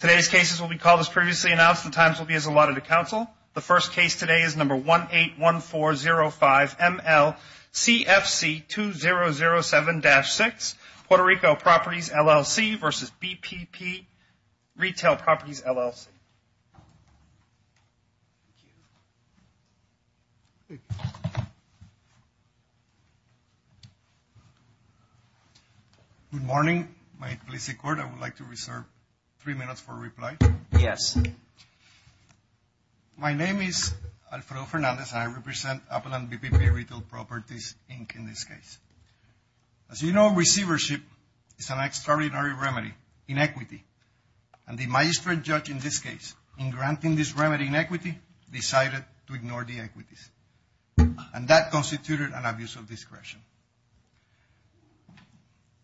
Today's cases will be called as previously announced. The times will be as allotted to counsel. The first case today is number 181405 M-L-CFC 2007-6 Puerto Rico Properties, LLC versus BPP Retail Properties, LLC. Good morning. May it please the Court, I would like to reserve three minutes for reply. My name is Alfredo Fernandez and I represent Apple and BPP Retail Properties, Inc. in this case. As you know, receivership is an extraordinary remedy in equity. And the magistrate judge in this case, in granting this remedy in equity, decided to ignore the equities. And that constituted an abuse of discretion.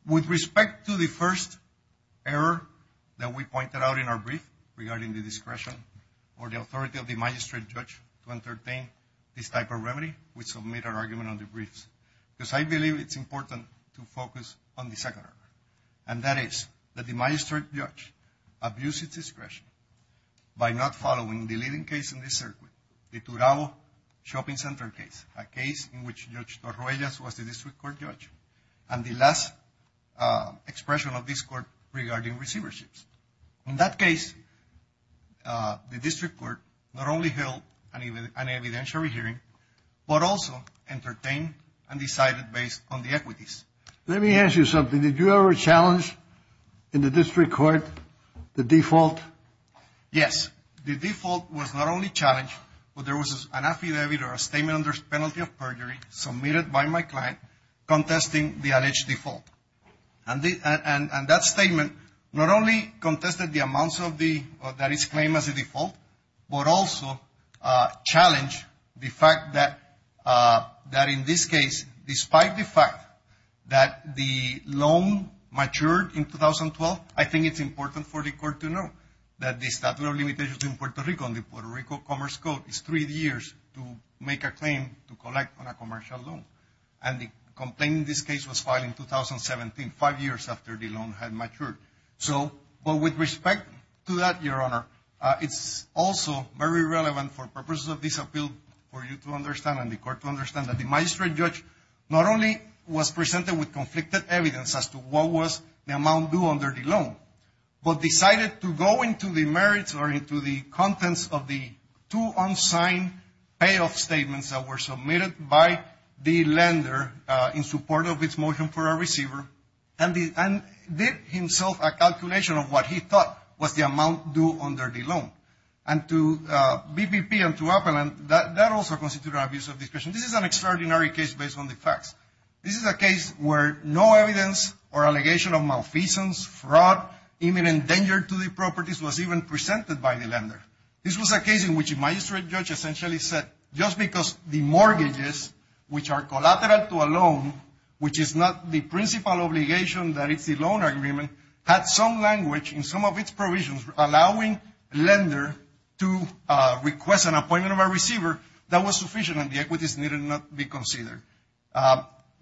With respect to the first error that we pointed out in our brief regarding the discretion or the authority of the magistrate judge to entertain this type of remedy, we submit our argument on the briefs. Because I believe it's important to focus on the second error. And that is that the magistrate judge abused its discretion by not following the leading case in this circuit, the Turago Shopping Center case, a case in which Judge Torruegas was the district court judge. And the last expression of this court regarding receiverships. In that case, the district court not only held an evidentiary hearing, but also entertained and decided based on the equities. Let me ask you something. Did you ever challenge in the district court the default? Yes. The default was not only challenged, but there was an affidavit or a statement under penalty of perjury submitted by my client contesting the alleged default. And that statement not only contested the amounts that is claimed as a default, but also challenged the fact that in this case, despite the fact that the loan matured in 2012, I think it's important for the court to know that the statute of limitations in Puerto Rico and the Puerto Rico Commerce Code is three years to make a claim to collect on a commercial loan. And the complaint in this case was filed in 2017, five years after the loan had matured. So, but with respect to that, Your Honor, it's also very relevant for purposes of this case to understand and the court to understand that the magistrate judge not only was presented with conflicted evidence as to what was the amount due under the loan, but decided to go into the merits or into the contents of the two unsigned payoff statements that were submitted by the lender in support of its motion for a receiver and did himself a calculation of what he thought was the amount due under the loan. And to BPP and to Appel, that also constituted an abuse of discretion. This is an extraordinary case based on the facts. This is a case where no evidence or allegation of malfeasance, fraud, imminent danger to the properties was even presented by the lender. This was a case in which a magistrate judge essentially said, just because the mortgages, which are collateral to a loan, which is not the principal obligation that it's a loan agreement, had some language in some of its needed not be considered.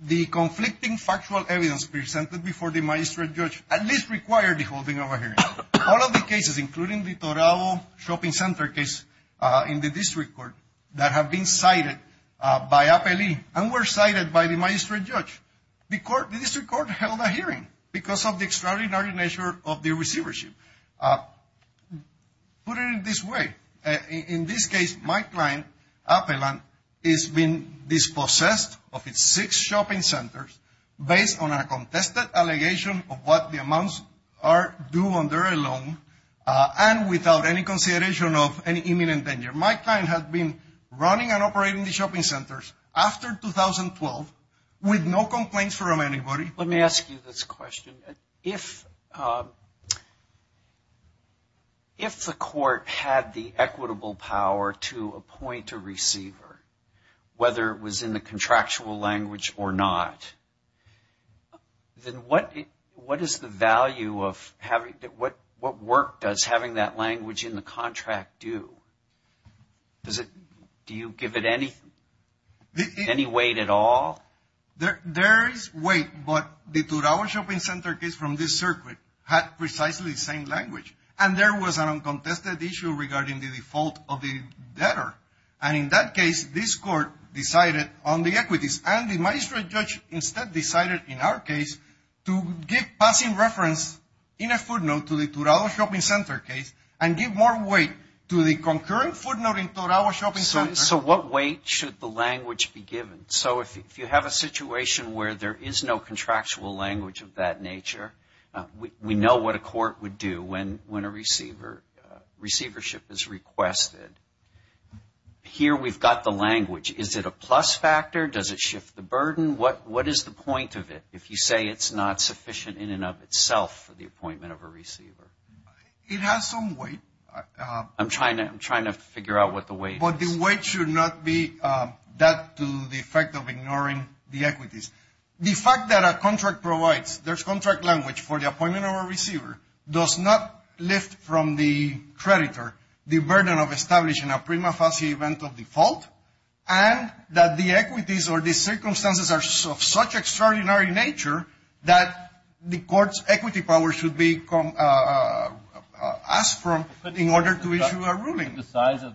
The conflicting factual evidence presented before the magistrate judge at least required the holding of a hearing. All of the cases, including the Torao Shopping Center case in the district court, that have been cited by Appel and were cited by the magistrate judge, the district court held a hearing because of the extraordinary nature of the receivership. Put it in this way. In this case, my client, Appel, has been dispossessed of its six shopping centers based on a contested allegation of what the amounts are due under a loan and without any consideration of any imminent danger. My client has been running and operating the shopping centers after 2012 with no complaints from anybody. Let me ask you this question. If the court had the equitable power to appoint a receiver, whether it was in the contractual language or not, then what is the value of having, what work does having that language in the contract do? Does it, do you give it any weight at all? There is weight, but the Torao Shopping Center case from this circuit had precisely the same language. And there was an uncontested issue regarding the default of the debtor. And in that case, this court decided on the equities. And the magistrate judge instead decided in our case to give passing reference in a footnote to the Torao Shopping Center case and give more weight to the concurrent footnote in Torao Shopping Center. So what weight should the language be given? So if you have a situation where there is no contractual language of that nature, we know what a court would do when a receiver, receivership is requested. Here we've got the language. Is it a plus factor? Does it shift the burden? What is the point of it if you say it's not sufficient in and of itself for the appointment of a receiver? It has some weight. I'm trying to figure out what the weight is. But the weight should not be that to the effect of ignoring the equities. The fact that a contract provides, there's contract language for the appointment of a receiver, does not lift from the creditor the burden of establishing a prima facie event of default and that the equities or the circumstances are of such extraordinary nature that the court's equity power should be asked from in order to issue a ruling. Could the size of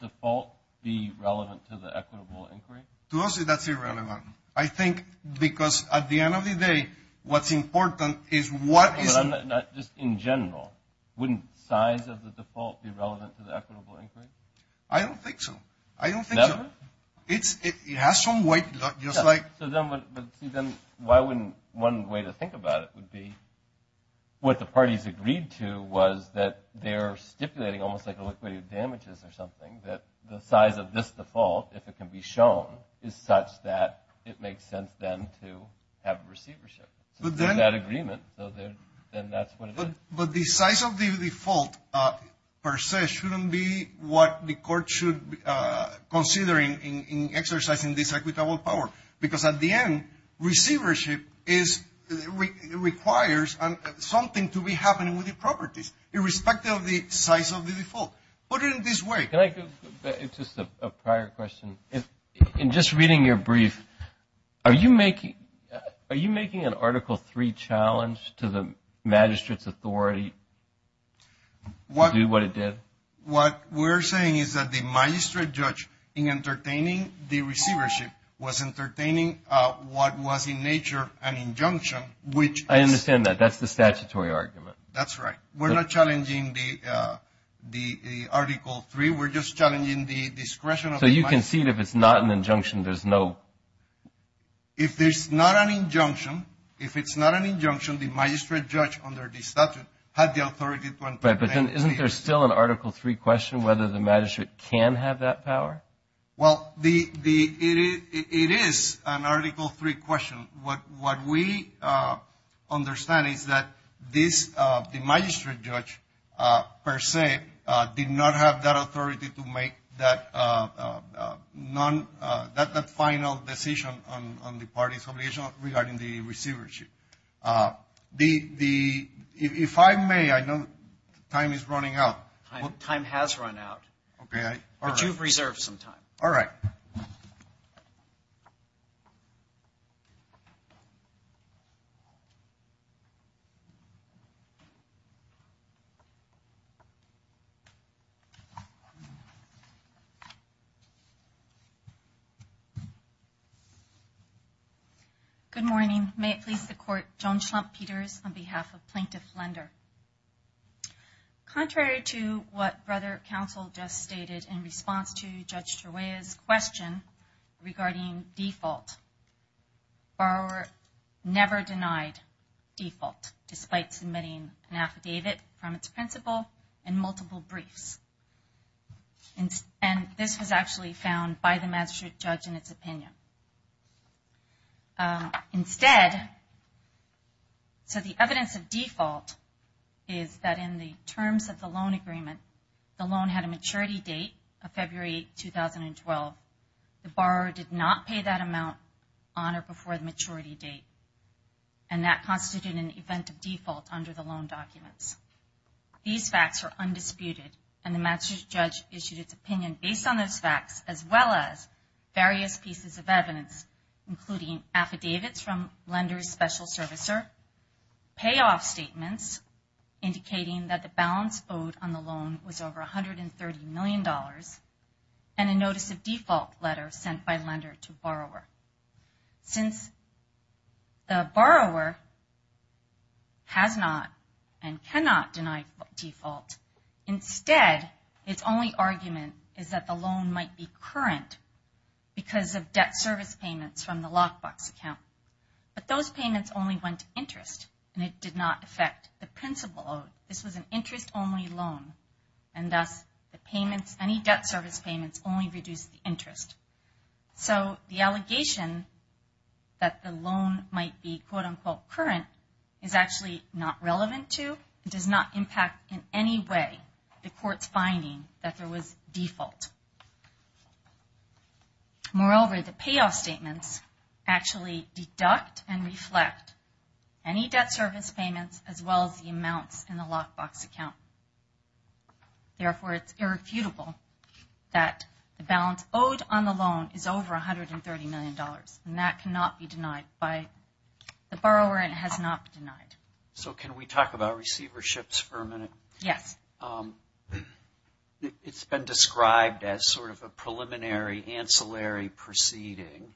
the default be relevant to the equitable inquiry? To us, that's irrelevant. I think because at the end of the day, what's important is what is... Just in general, wouldn't the size of the default be relevant to the equitable inquiry? I don't think so. Never? I don't think so. It has some weight, just like... So then why wouldn't one way to think about it would be what the parties agreed to was that they're stipulating almost like a liquidity of damages or something, that the size of this default, if it can be shown, is such that it makes sense then to have receivership. So they're in that agreement, so then that's what it is. But the size of the default per se shouldn't be what the court should consider in exercising this equitable power. Because at the end, receivership requires something to be happening with the properties, irrespective of the size of the default. Put it in this way... Can I... Just a prior question. In just reading your brief, are you making an Article 3 challenge to the magistrate's authority to do what it did? What we're saying is that the magistrate judge, in entertaining the receivership, was entertaining what was in nature an injunction, which... I understand that. That's the statutory argument. That's right. We're not challenging the Article 3. We're just challenging the discretion of... So you concede if it's not an injunction, there's no... If there's not an injunction, if it's not an injunction, the magistrate judge, under the statute, had the authority to entertain... But then isn't there still an Article 3 question whether the magistrate can have that power? Well, the... It is an Article 3 question. What we understand is that this injunction of the magistrate judge, per se, did not have that authority to make that final decision on the parties' obligation regarding the receivership. If I may, I know time is running out. Time has run out, but you've reserved some time. All right. Good morning. May it please the Court, Joan Schlump Peters on behalf of Plaintiff Lender. Contrary to what Brother Counsel just stated in response to Judge Turwaya's question regarding default, the borrower never denied default, despite submitting an affidavit from its principal and multiple briefs. This was actually found by the magistrate judge in its opinion. Instead... So the evidence of default is that in the terms of the loan agreement, the loan had a maturity date of February 2012. The borrower did not pay that amount on or before the maturity date, and that constituted an event of default under the loan documents. These facts are undisputed, and the magistrate judge issued its opinion based on those facts as well as various pieces of evidence, including affidavits from lenders' special servicer, payoff statements indicating that the balance owed on the loan was over $130 million, and a notice of default letter sent by lender to borrower. Since the borrower has not and cannot deny default, instead its only argument is that the loan might be current because of debt service payments from the lockbox account. But those payments only went to interest, and it did not affect the principal. This was an interest-only loan, and thus the payments, any debt service payments, only reduced the interest. So the allegation that the loan might be quote-unquote current is actually not relevant to and does not impact in any way the court's finding that there was default. Moreover, the payoff statements actually deduct and reflect any debt service payments as well as the amounts in the lockbox account. Therefore, it's irrefutable that the balance owed on the loan is over $130 million, and that cannot be denied by the borrower and has not been denied. So can we talk about receiverships for a minute? Yes. It's been described as sort of a preliminary ancillary proceeding,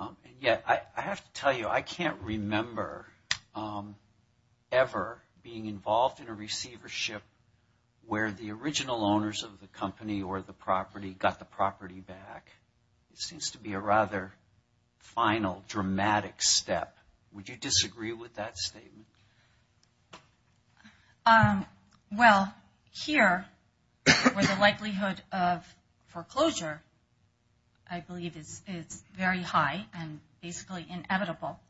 and yet I have to tell you I can't remember ever being involved in a receivership where the original owners of the company or the property got the property back. It seems to be a rather final, dramatic step. Would you disagree with that statement? Well, here, where the likelihood of foreclosure I believe is very high and basically inevitable,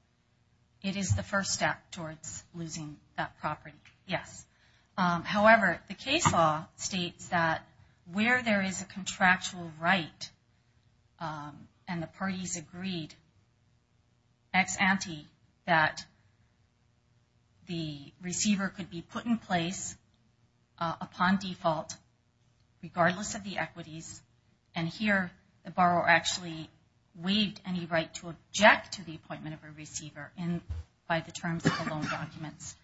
it is the first step towards losing that property, yes. However, the case law states that where there is a contractual right and the parties agreed ex ante that the receiver could be put in place upon default regardless of the equities, and here the borrower actually waived any right to object to the appointment of a receiver by the terms of the loan documents.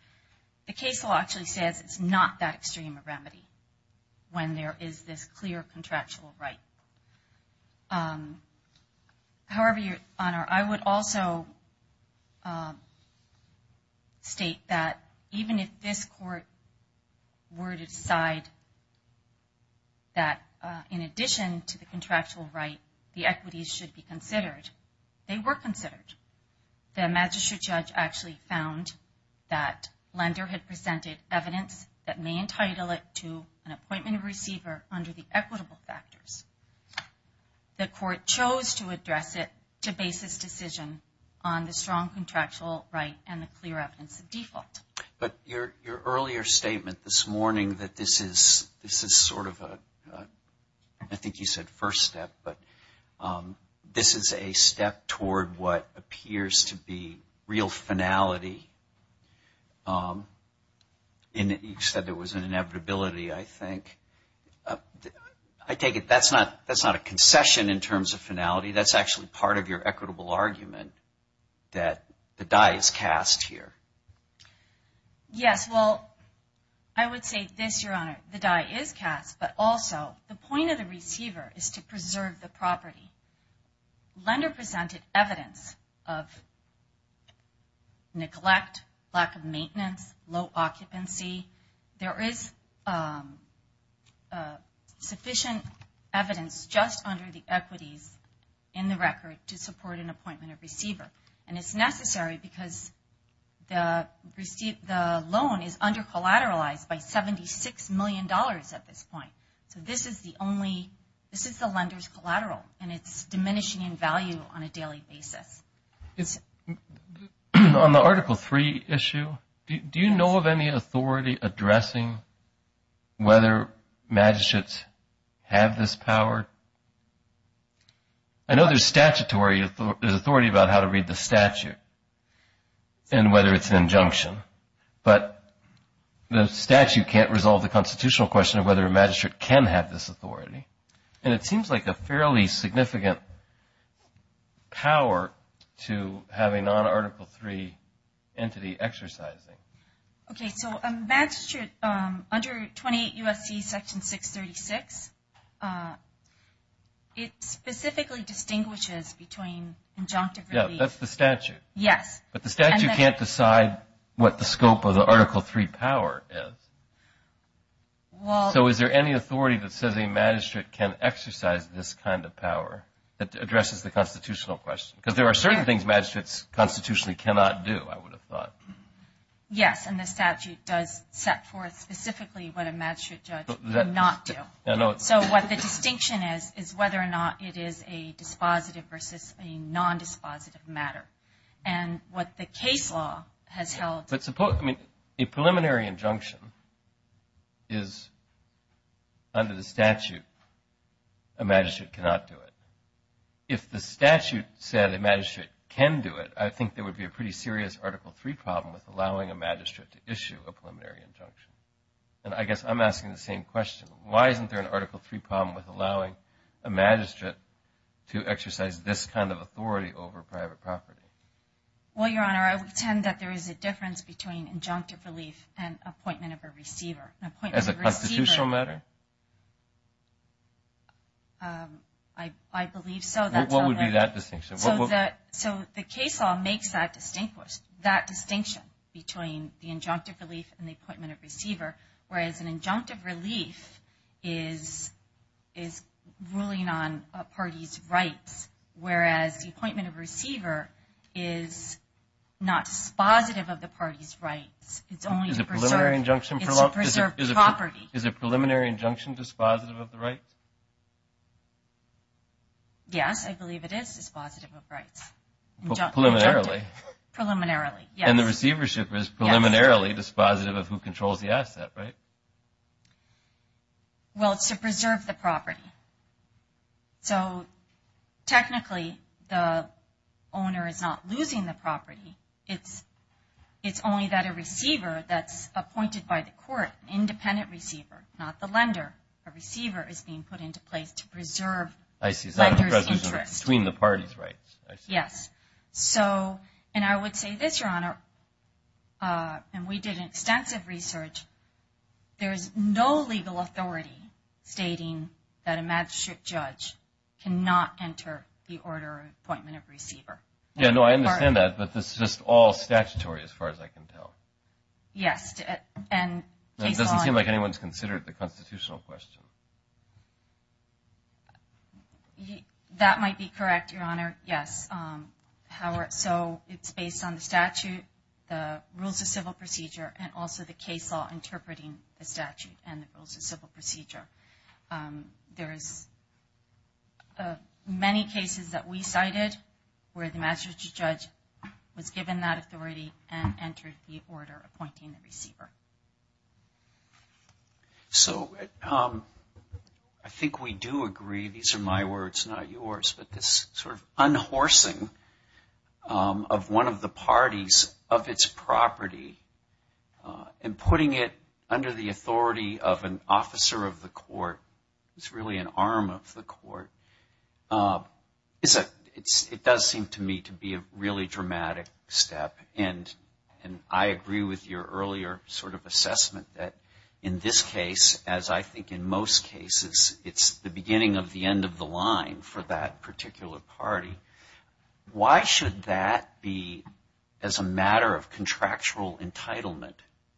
The case law actually says it's not that extreme a remedy when there is this clear contractual right. However, Your Honor, I would also state that even if this court were to decide that in addition to the contractual right, the equities should be considered, they were considered. The magistrate judge actually found that lender had presented evidence that may entitle it to an appointment of a receiver under the equitable factors. The court chose to address it to base this decision on the strong contractual right and the clear evidence of default. But your earlier statement this morning that this is sort of a, I think you said first step, but this is a step toward what appears to be real finality, and you said there was an inevitability, I think. I take it that's not a concession in terms of finality. That's actually part of your equitable argument that the die is cast here. Yes. Well, I would say this, Your Honor, the die is cast, but also the point of the receiver is to preserve the property. Lender presented evidence of neglect, lack of maintenance, low occupancy. There is sufficient evidence just under the equities in the record to support an appointment of receiver, and it's necessary because the loan is under-collateralized by $76 million at this point. This is the lender's collateral, and it's diminishing in value on a daily basis. On the Article III issue, do you know of any authority addressing whether magistrates have this power? I know there's statutory authority about how to read the statute and whether it's an injunction, but the statute can't resolve the constitutional question of whether a magistrate can have this authority. It seems like a fairly significant power to have a non-Article III entity exercising. Okay, so a magistrate under 28 U.S.C. Section 636, it specifically distinguishes between injunctive relief. Yes, that's the statute. Yes. But the statute can't decide what the scope of the Article III power is. So is there any authority that says a magistrate can exercise this kind of power that addresses the constitutional question? Because there are certain things magistrates constitutionally cannot do, I would have thought. Yes, and the statute does set forth specifically what a magistrate judge cannot do. So what the distinction is, is whether or not it is a dispositive versus a non-dispositive matter. And what the case law has held... But suppose a preliminary injunction is under the statute, a magistrate cannot do it. If the statute said a magistrate can do it, I think there would be a pretty serious Article III problem with allowing a magistrate to issue a preliminary injunction. And I guess I'm asking the same question. Why isn't there an Article III problem with allowing a magistrate to exercise this kind of authority over private property? Well, Your Honor, I would tend that there is a difference between injunctive relief and appointment of a receiver. As a constitutional matter? I believe so. What would be that distinction? So the case law makes that distinction between the injunctive relief and the appointment of receiver, whereas an injunctive relief is ruling on a party's rights, whereas the receivership is not dispositive of the party's rights, it's only to preserve property. Is a preliminary injunction dispositive of the rights? Yes, I believe it is dispositive of rights. Preliminarily? Preliminarily, yes. And the receivership is preliminarily dispositive of who controls the asset, right? Well, it's to preserve the property. So, technically, the owner is not losing the property. It's only that a receiver that's appointed by the court, an independent receiver, not the lender, a receiver is being put into place to preserve the lender's interest. I see. So it's between the parties' rights. Yes. So, and I would say this, Your Honor, and we did extensive research, there is no legal authority stating that a magistrate judge cannot enter the order of appointment of receiver. Yeah, no, I understand that, but this is just all statutory as far as I can tell. Yes. And it doesn't seem like anyone's considered the constitutional question. That might be correct, Your Honor, yes. So, it's based on the statute, the rules of civil procedure, and also the case law interpreting the statute and the rules of civil procedure. There is many cases that we cited where the magistrate judge was given that authority and entered the order appointing the receiver. So, I think we do agree, these are my words, not yours, but this sort of unhorsing of one of the parties of its property and putting it under the authority of an officer of the court, it's really an arm of the court, it does seem to me to be a really dramatic step. And I agree with your earlier sort of assessment that in this case, as I think in most cases, it's the beginning of the end of the line for that particular party. Why should that be as a matter of contractual entitlement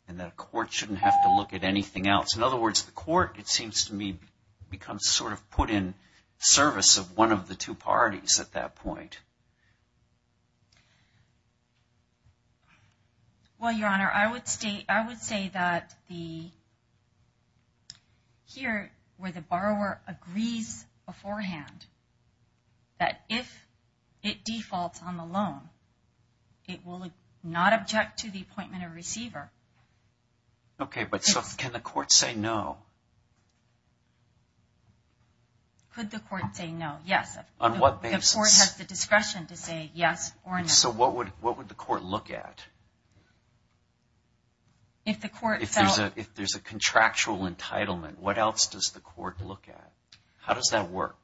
and that a court shouldn't have to look at anything else? In other words, the court, it seems to me, becomes sort of put in service of one of the two parties at that point. Well, Your Honor, I would say that here where the borrower agrees beforehand that if it defaults on the loan, it will not object to the appointment of receiver. Okay, but so can the court say no? Could the court say no, yes. On what basis? The court has the discretion to say yes or no. So what would the court look at? If there's a contractual entitlement, what else does the court look at? How does that work?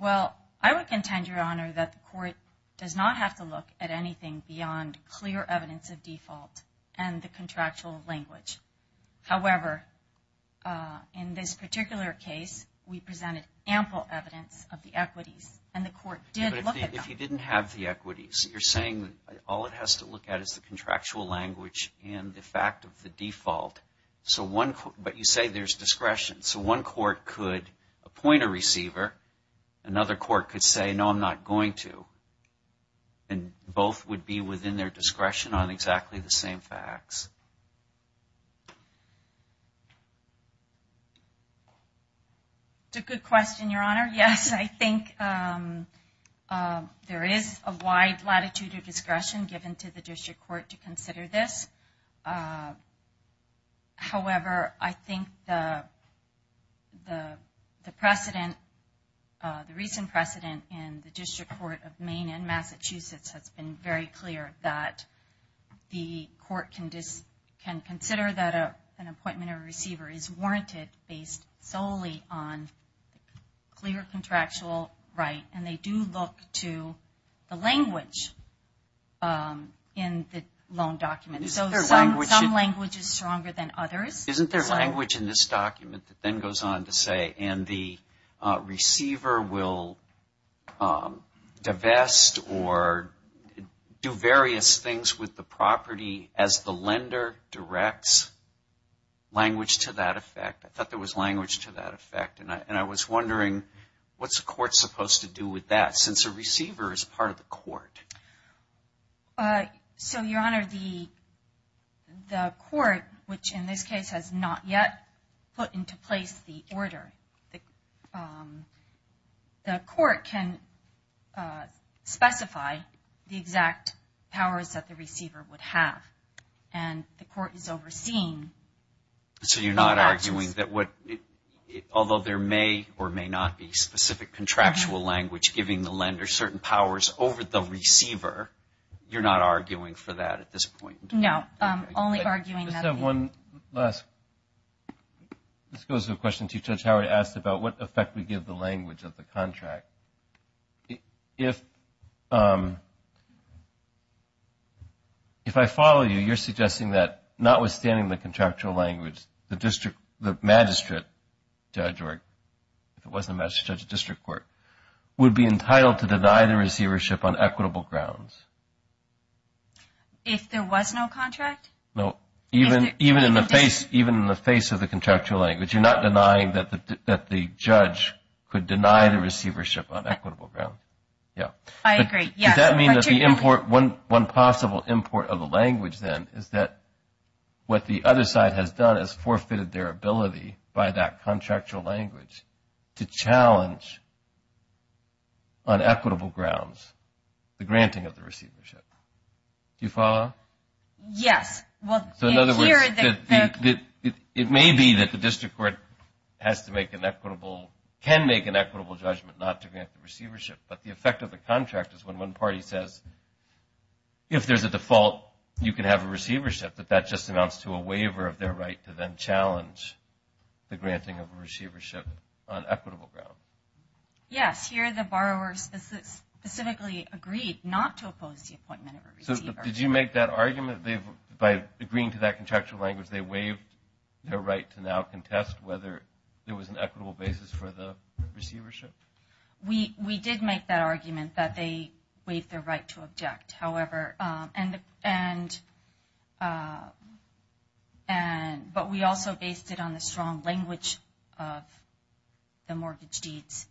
Well, I would contend, Your Honor, that the court does not have to look at anything beyond clear evidence of default and the contractual language. However, in this particular case, we presented ample evidence of the equities and the court did look at them. But if you didn't have the equities, you're saying all it has to look at is the contractual language and the fact of the default. But you say there's discretion. So one court could appoint a receiver. Another court could say, no, I'm not going to. And both would be within their discretion on exactly the same facts. That's a good question, Your Honor. Yes, I think there is a wide latitude of discretion given to the district court to consider this. However, I think the precedent, the recent precedent in the district court of Maine and Massachusetts has been very clear that the court can consider that an appointment of a receiver is warranted based solely on clear contractual right. And they do look to the language in the loan document. So some language is stronger than others. Isn't there language in this document that then goes on to say, and the receiver will divest or do various things with the property as the lender directs? Language to that effect. I thought there was language to that effect. And I was wondering, what's the court supposed to do with that since a receiver is part of the court? So, Your Honor, the court, which in this case has not yet put into place the order, the court can specify the exact powers that the receiver would have. And the court is overseeing. So you're not arguing that what, although there may or may not be specific contractual language giving the lender certain powers over the receiver, you're not arguing for that at this point? No. Only arguing that. I just have one last, this goes to a question Chief Judge Howard asked about what effect we give the language of the contract. If I follow you, you're suggesting that notwithstanding the contractual language, the magistrate judge or, if it wasn't a magistrate judge, a district court, would be entitled to deny the receivership on equitable grounds. If there was no contract? No. Even in the face of the contractual language, you're not denying that the judge could deny the receivership on equitable grounds. I agree. Does that mean that the import, one possible import of the language then is that what the other side has done is forfeited their ability by that contractual language to challenge on equitable grounds the granting of the receivership. Do you follow? Yes. So in other words, it may be that the district court has to make an equitable, can make an equitable judgment not to grant the receivership. But the effect of the contract is when one party says, if there's a default, you can have a receivership, that that just amounts to a waiver of their right to then challenge the granting of a receivership on equitable grounds. Yes. Here the borrowers specifically agreed not to oppose the appointment of a receiver. So did you make that argument? By agreeing to that contractual language, they waived their right to now contest whether there was an equitable basis for the receivership? We did make that argument that they waived their right to object. However, but we also based it on the strong language of the mortgage deeds,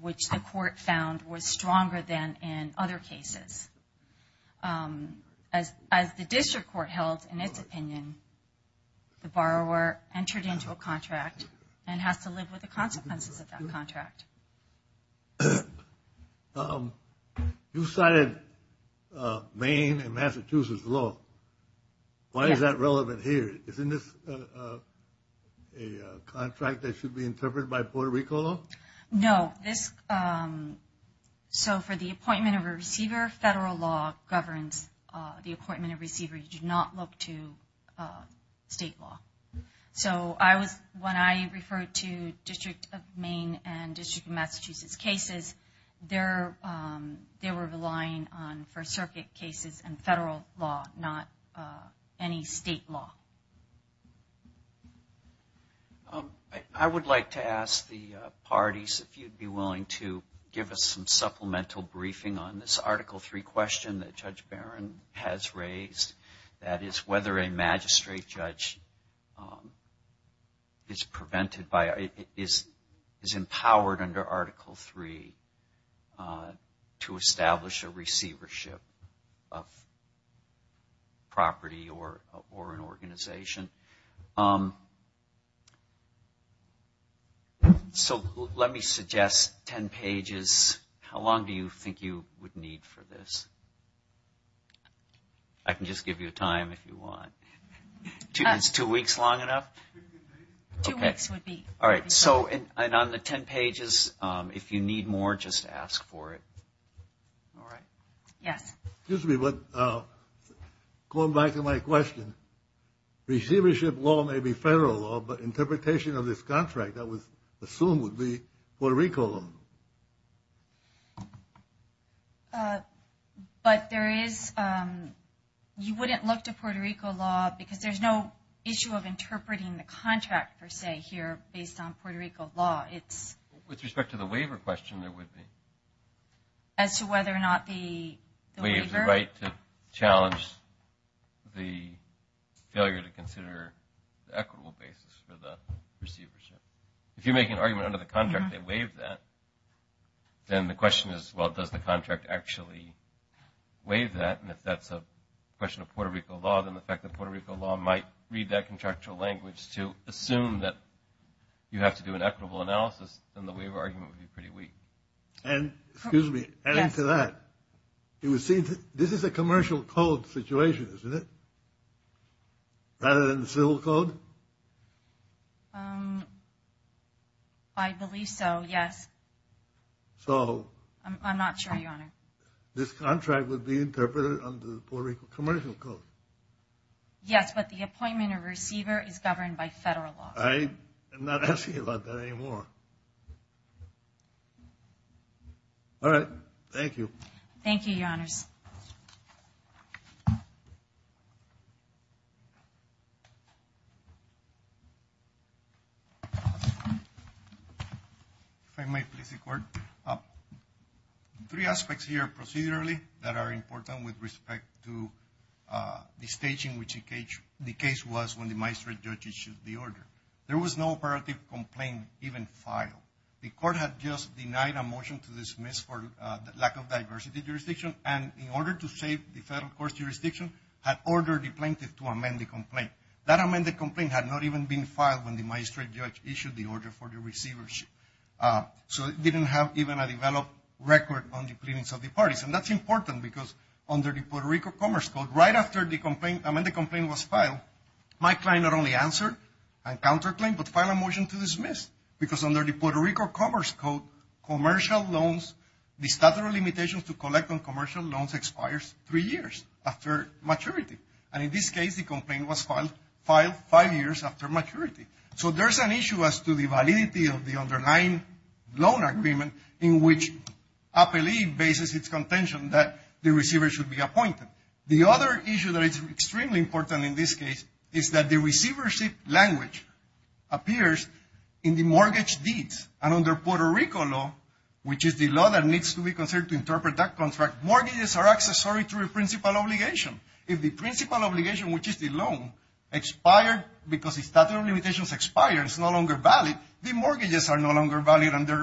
which the court found was stronger than in other cases. As the district court held in its opinion, the borrower entered into a contract and has to live with the consequences of that contract. You cited Maine and Massachusetts law. Why is that relevant here? Isn't this a contract that should be interpreted by Puerto Rico law? No. So for the appointment of a receiver, federal law governs the appointment of a receiver. You do not look to state law. So when I referred to District of Maine and District of Massachusetts cases, they were relying on First Circuit cases and federal law, not any state law. I would like to ask the parties if you would be willing to give us some supplemental briefing on this Article 3 question that Judge Barron has raised. That is whether a magistrate judge is prevented by, is empowered under Article 3 to establish a receivership of property or an organization. So let me suggest 10 pages. How long do you think you would need for this? I can just give you a time if you want. Is two weeks long enough? Two weeks would be. All right. So on the 10 pages, if you need more, just ask for it. All right. Yes. Excuse me, but going back to my question, receivership law may be federal law, but interpretation of this contract that was assumed would be Puerto Rico law. But there is, you wouldn't look to Puerto Rico law, because there's no issue of interpreting the contract, per se, here based on Puerto Rico law. With respect to the waiver question, there would be. As to whether or not the waiver. The right to challenge the failure to consider the equitable basis for the receivership. If you're making an argument under the contract, they waive that. Then the question is, well, does the contract actually waive that? And if that's a question of Puerto Rico law, then the fact that Puerto Rico law might read that contractual language to assume that you have to do an equitable analysis, then the waiver argument would be pretty weak. And, excuse me, adding to that, this is a commercial code situation, isn't it? Rather than civil code? I believe so, yes. So? I'm not sure, Your Honor. This contract would be interpreted under the Puerto Rico commercial code? Yes, but the appointment of receiver is governed by federal law. I'm not asking about that anymore. All right, thank you. Thank you, Your Honors. If I may, please, Your Court. Three aspects here, procedurally, that are important with respect to the staging which the case was when the magistrate judge issued the order. There was no operative complaint even filed. The court had just denied a motion to dismiss for lack of diversity jurisdiction, and in order to save the federal court's jurisdiction, had ordered the plaintiff to amend the complaint. That amended complaint had not even been filed when the magistrate judge issued the order for the receivership. So it didn't have even a developed record on the pleadings of the parties, and that's important because under the Puerto Rico commerce code, right after the amended complaint was filed, my client not only answered and counterclaimed, but filed a motion to dismiss because under the Puerto Rico commerce code, commercial loans, the statute of limitations to collect on commercial loans expires three years after maturity. And in this case, the complaint was filed five years after maturity. So there's an issue as to the validity of the underlying loan agreement in which APELE bases its contention that the receiver should be appointed. The other issue that is extremely important in this case is that the receivership language appears in the mortgage deeds. And under Puerto Rico law, which is the law that needs to be considered to interpret that contract, mortgages are accessory to a principal obligation. If the principal obligation, which is the loan, expired because the statute of limitations expired, it's no longer valid, the mortgages are no longer valid and the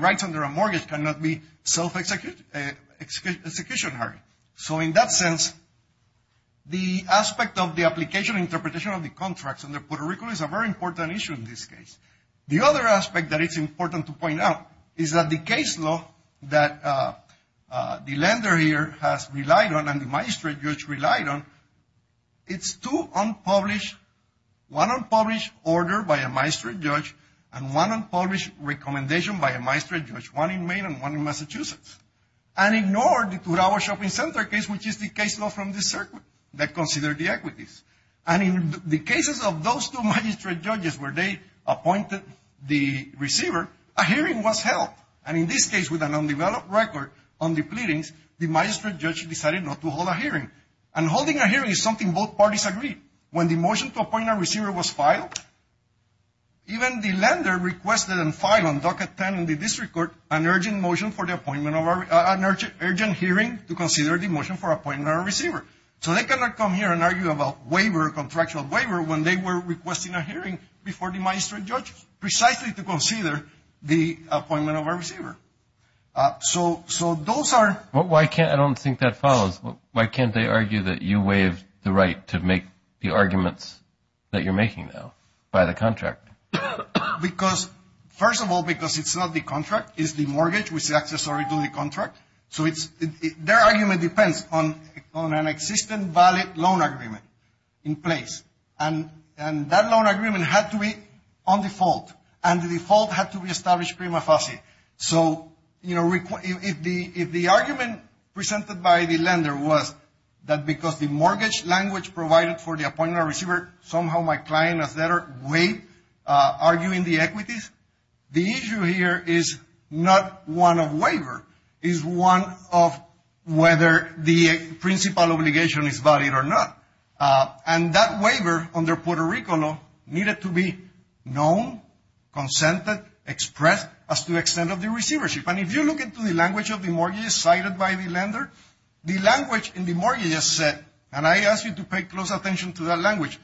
rights under a mortgage cannot be self-executionary. So in that sense, the aspect of the application interpretation of the contracts under Puerto Rico is a very important issue in this case. The other aspect that is important to point out is that the case law that the lender here has relied on and the magistrate judge relied on, it's two unpublished, one unpublished order by a magistrate judge and one unpublished recommendation by a magistrate judge, one in Maine and one in Massachusetts. And ignored the two-hour shopping center case, which is the case law from this circuit that considered the equities. And in the cases of those two magistrate judges where they appointed the receiver, a hearing was held. And in this case, with an undeveloped record on the pleadings, the magistrate judge decided not to hold a hearing. And holding a hearing is something both parties agreed. When the motion to appoint a receiver was filed, even the lender requested and filed on docket 10 in the district court an urgent hearing to consider the motion for appointing a receiver. So they cannot come here and argue about waiver, contractual waiver, when they were requesting a hearing before the magistrate judge precisely to consider the appointment of a receiver. So those are... Well, why can't... I don't think that follows. Why can't they argue that you waive the right to make the arguments that you're making now by the contractor? Because... First of all, because it's not the contract, it's the mortgage which is accessory to the contract. So it's... Their argument depends on an existing valid loan agreement in place. And that loan agreement had to be on default. And the default had to be established prima facie. So, you know, if the argument presented by the lender was that because the mortgage language provided for the appointment of a receiver, somehow my client has better way arguing the equities, the issue here is not one of waiver, is one of whether the principal obligation is valid or not. And that waiver under Puerto Rico law needed to be known, consented, expressed as to the extent of the receivership. And if you look into the language of the mortgage cited by the lender, the language in the mortgage has said, and I ask you to pay close attention to that language,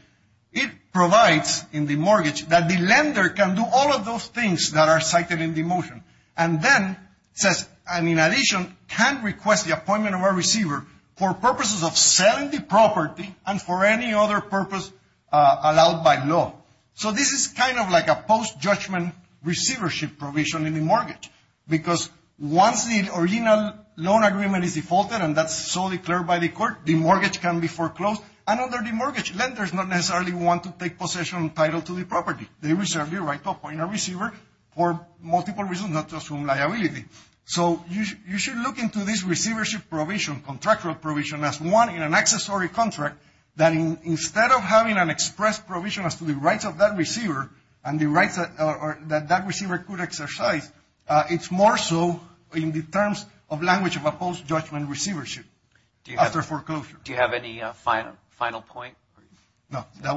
it provides in the mortgage that the lender can do all of those things that are cited in the motion. And then says, and in addition, can request the appointment of a receiver for purposes of selling the property and for any other purpose allowed by law. So this is kind of like a post-judgment receivership provision. And that's why there's a limitation in the mortgage. Because once the original loan agreement is defaulted and that's so declared by the court, the mortgage can be foreclosed. And under the mortgage, lenders not necessarily want to take possession title to the property. They reserve the right to appoint a receiver for multiple reasons not to assume liability. So you should look into this receivership provision, contractual provision as one in an accessory contract that instead of having an express provision as to the rights of that receiver and the rights that that receiver could exercise, it's more so in the terms of language of a post-judgment receivership after foreclosure. Do you have any final point? No. That will be it. Okay, great.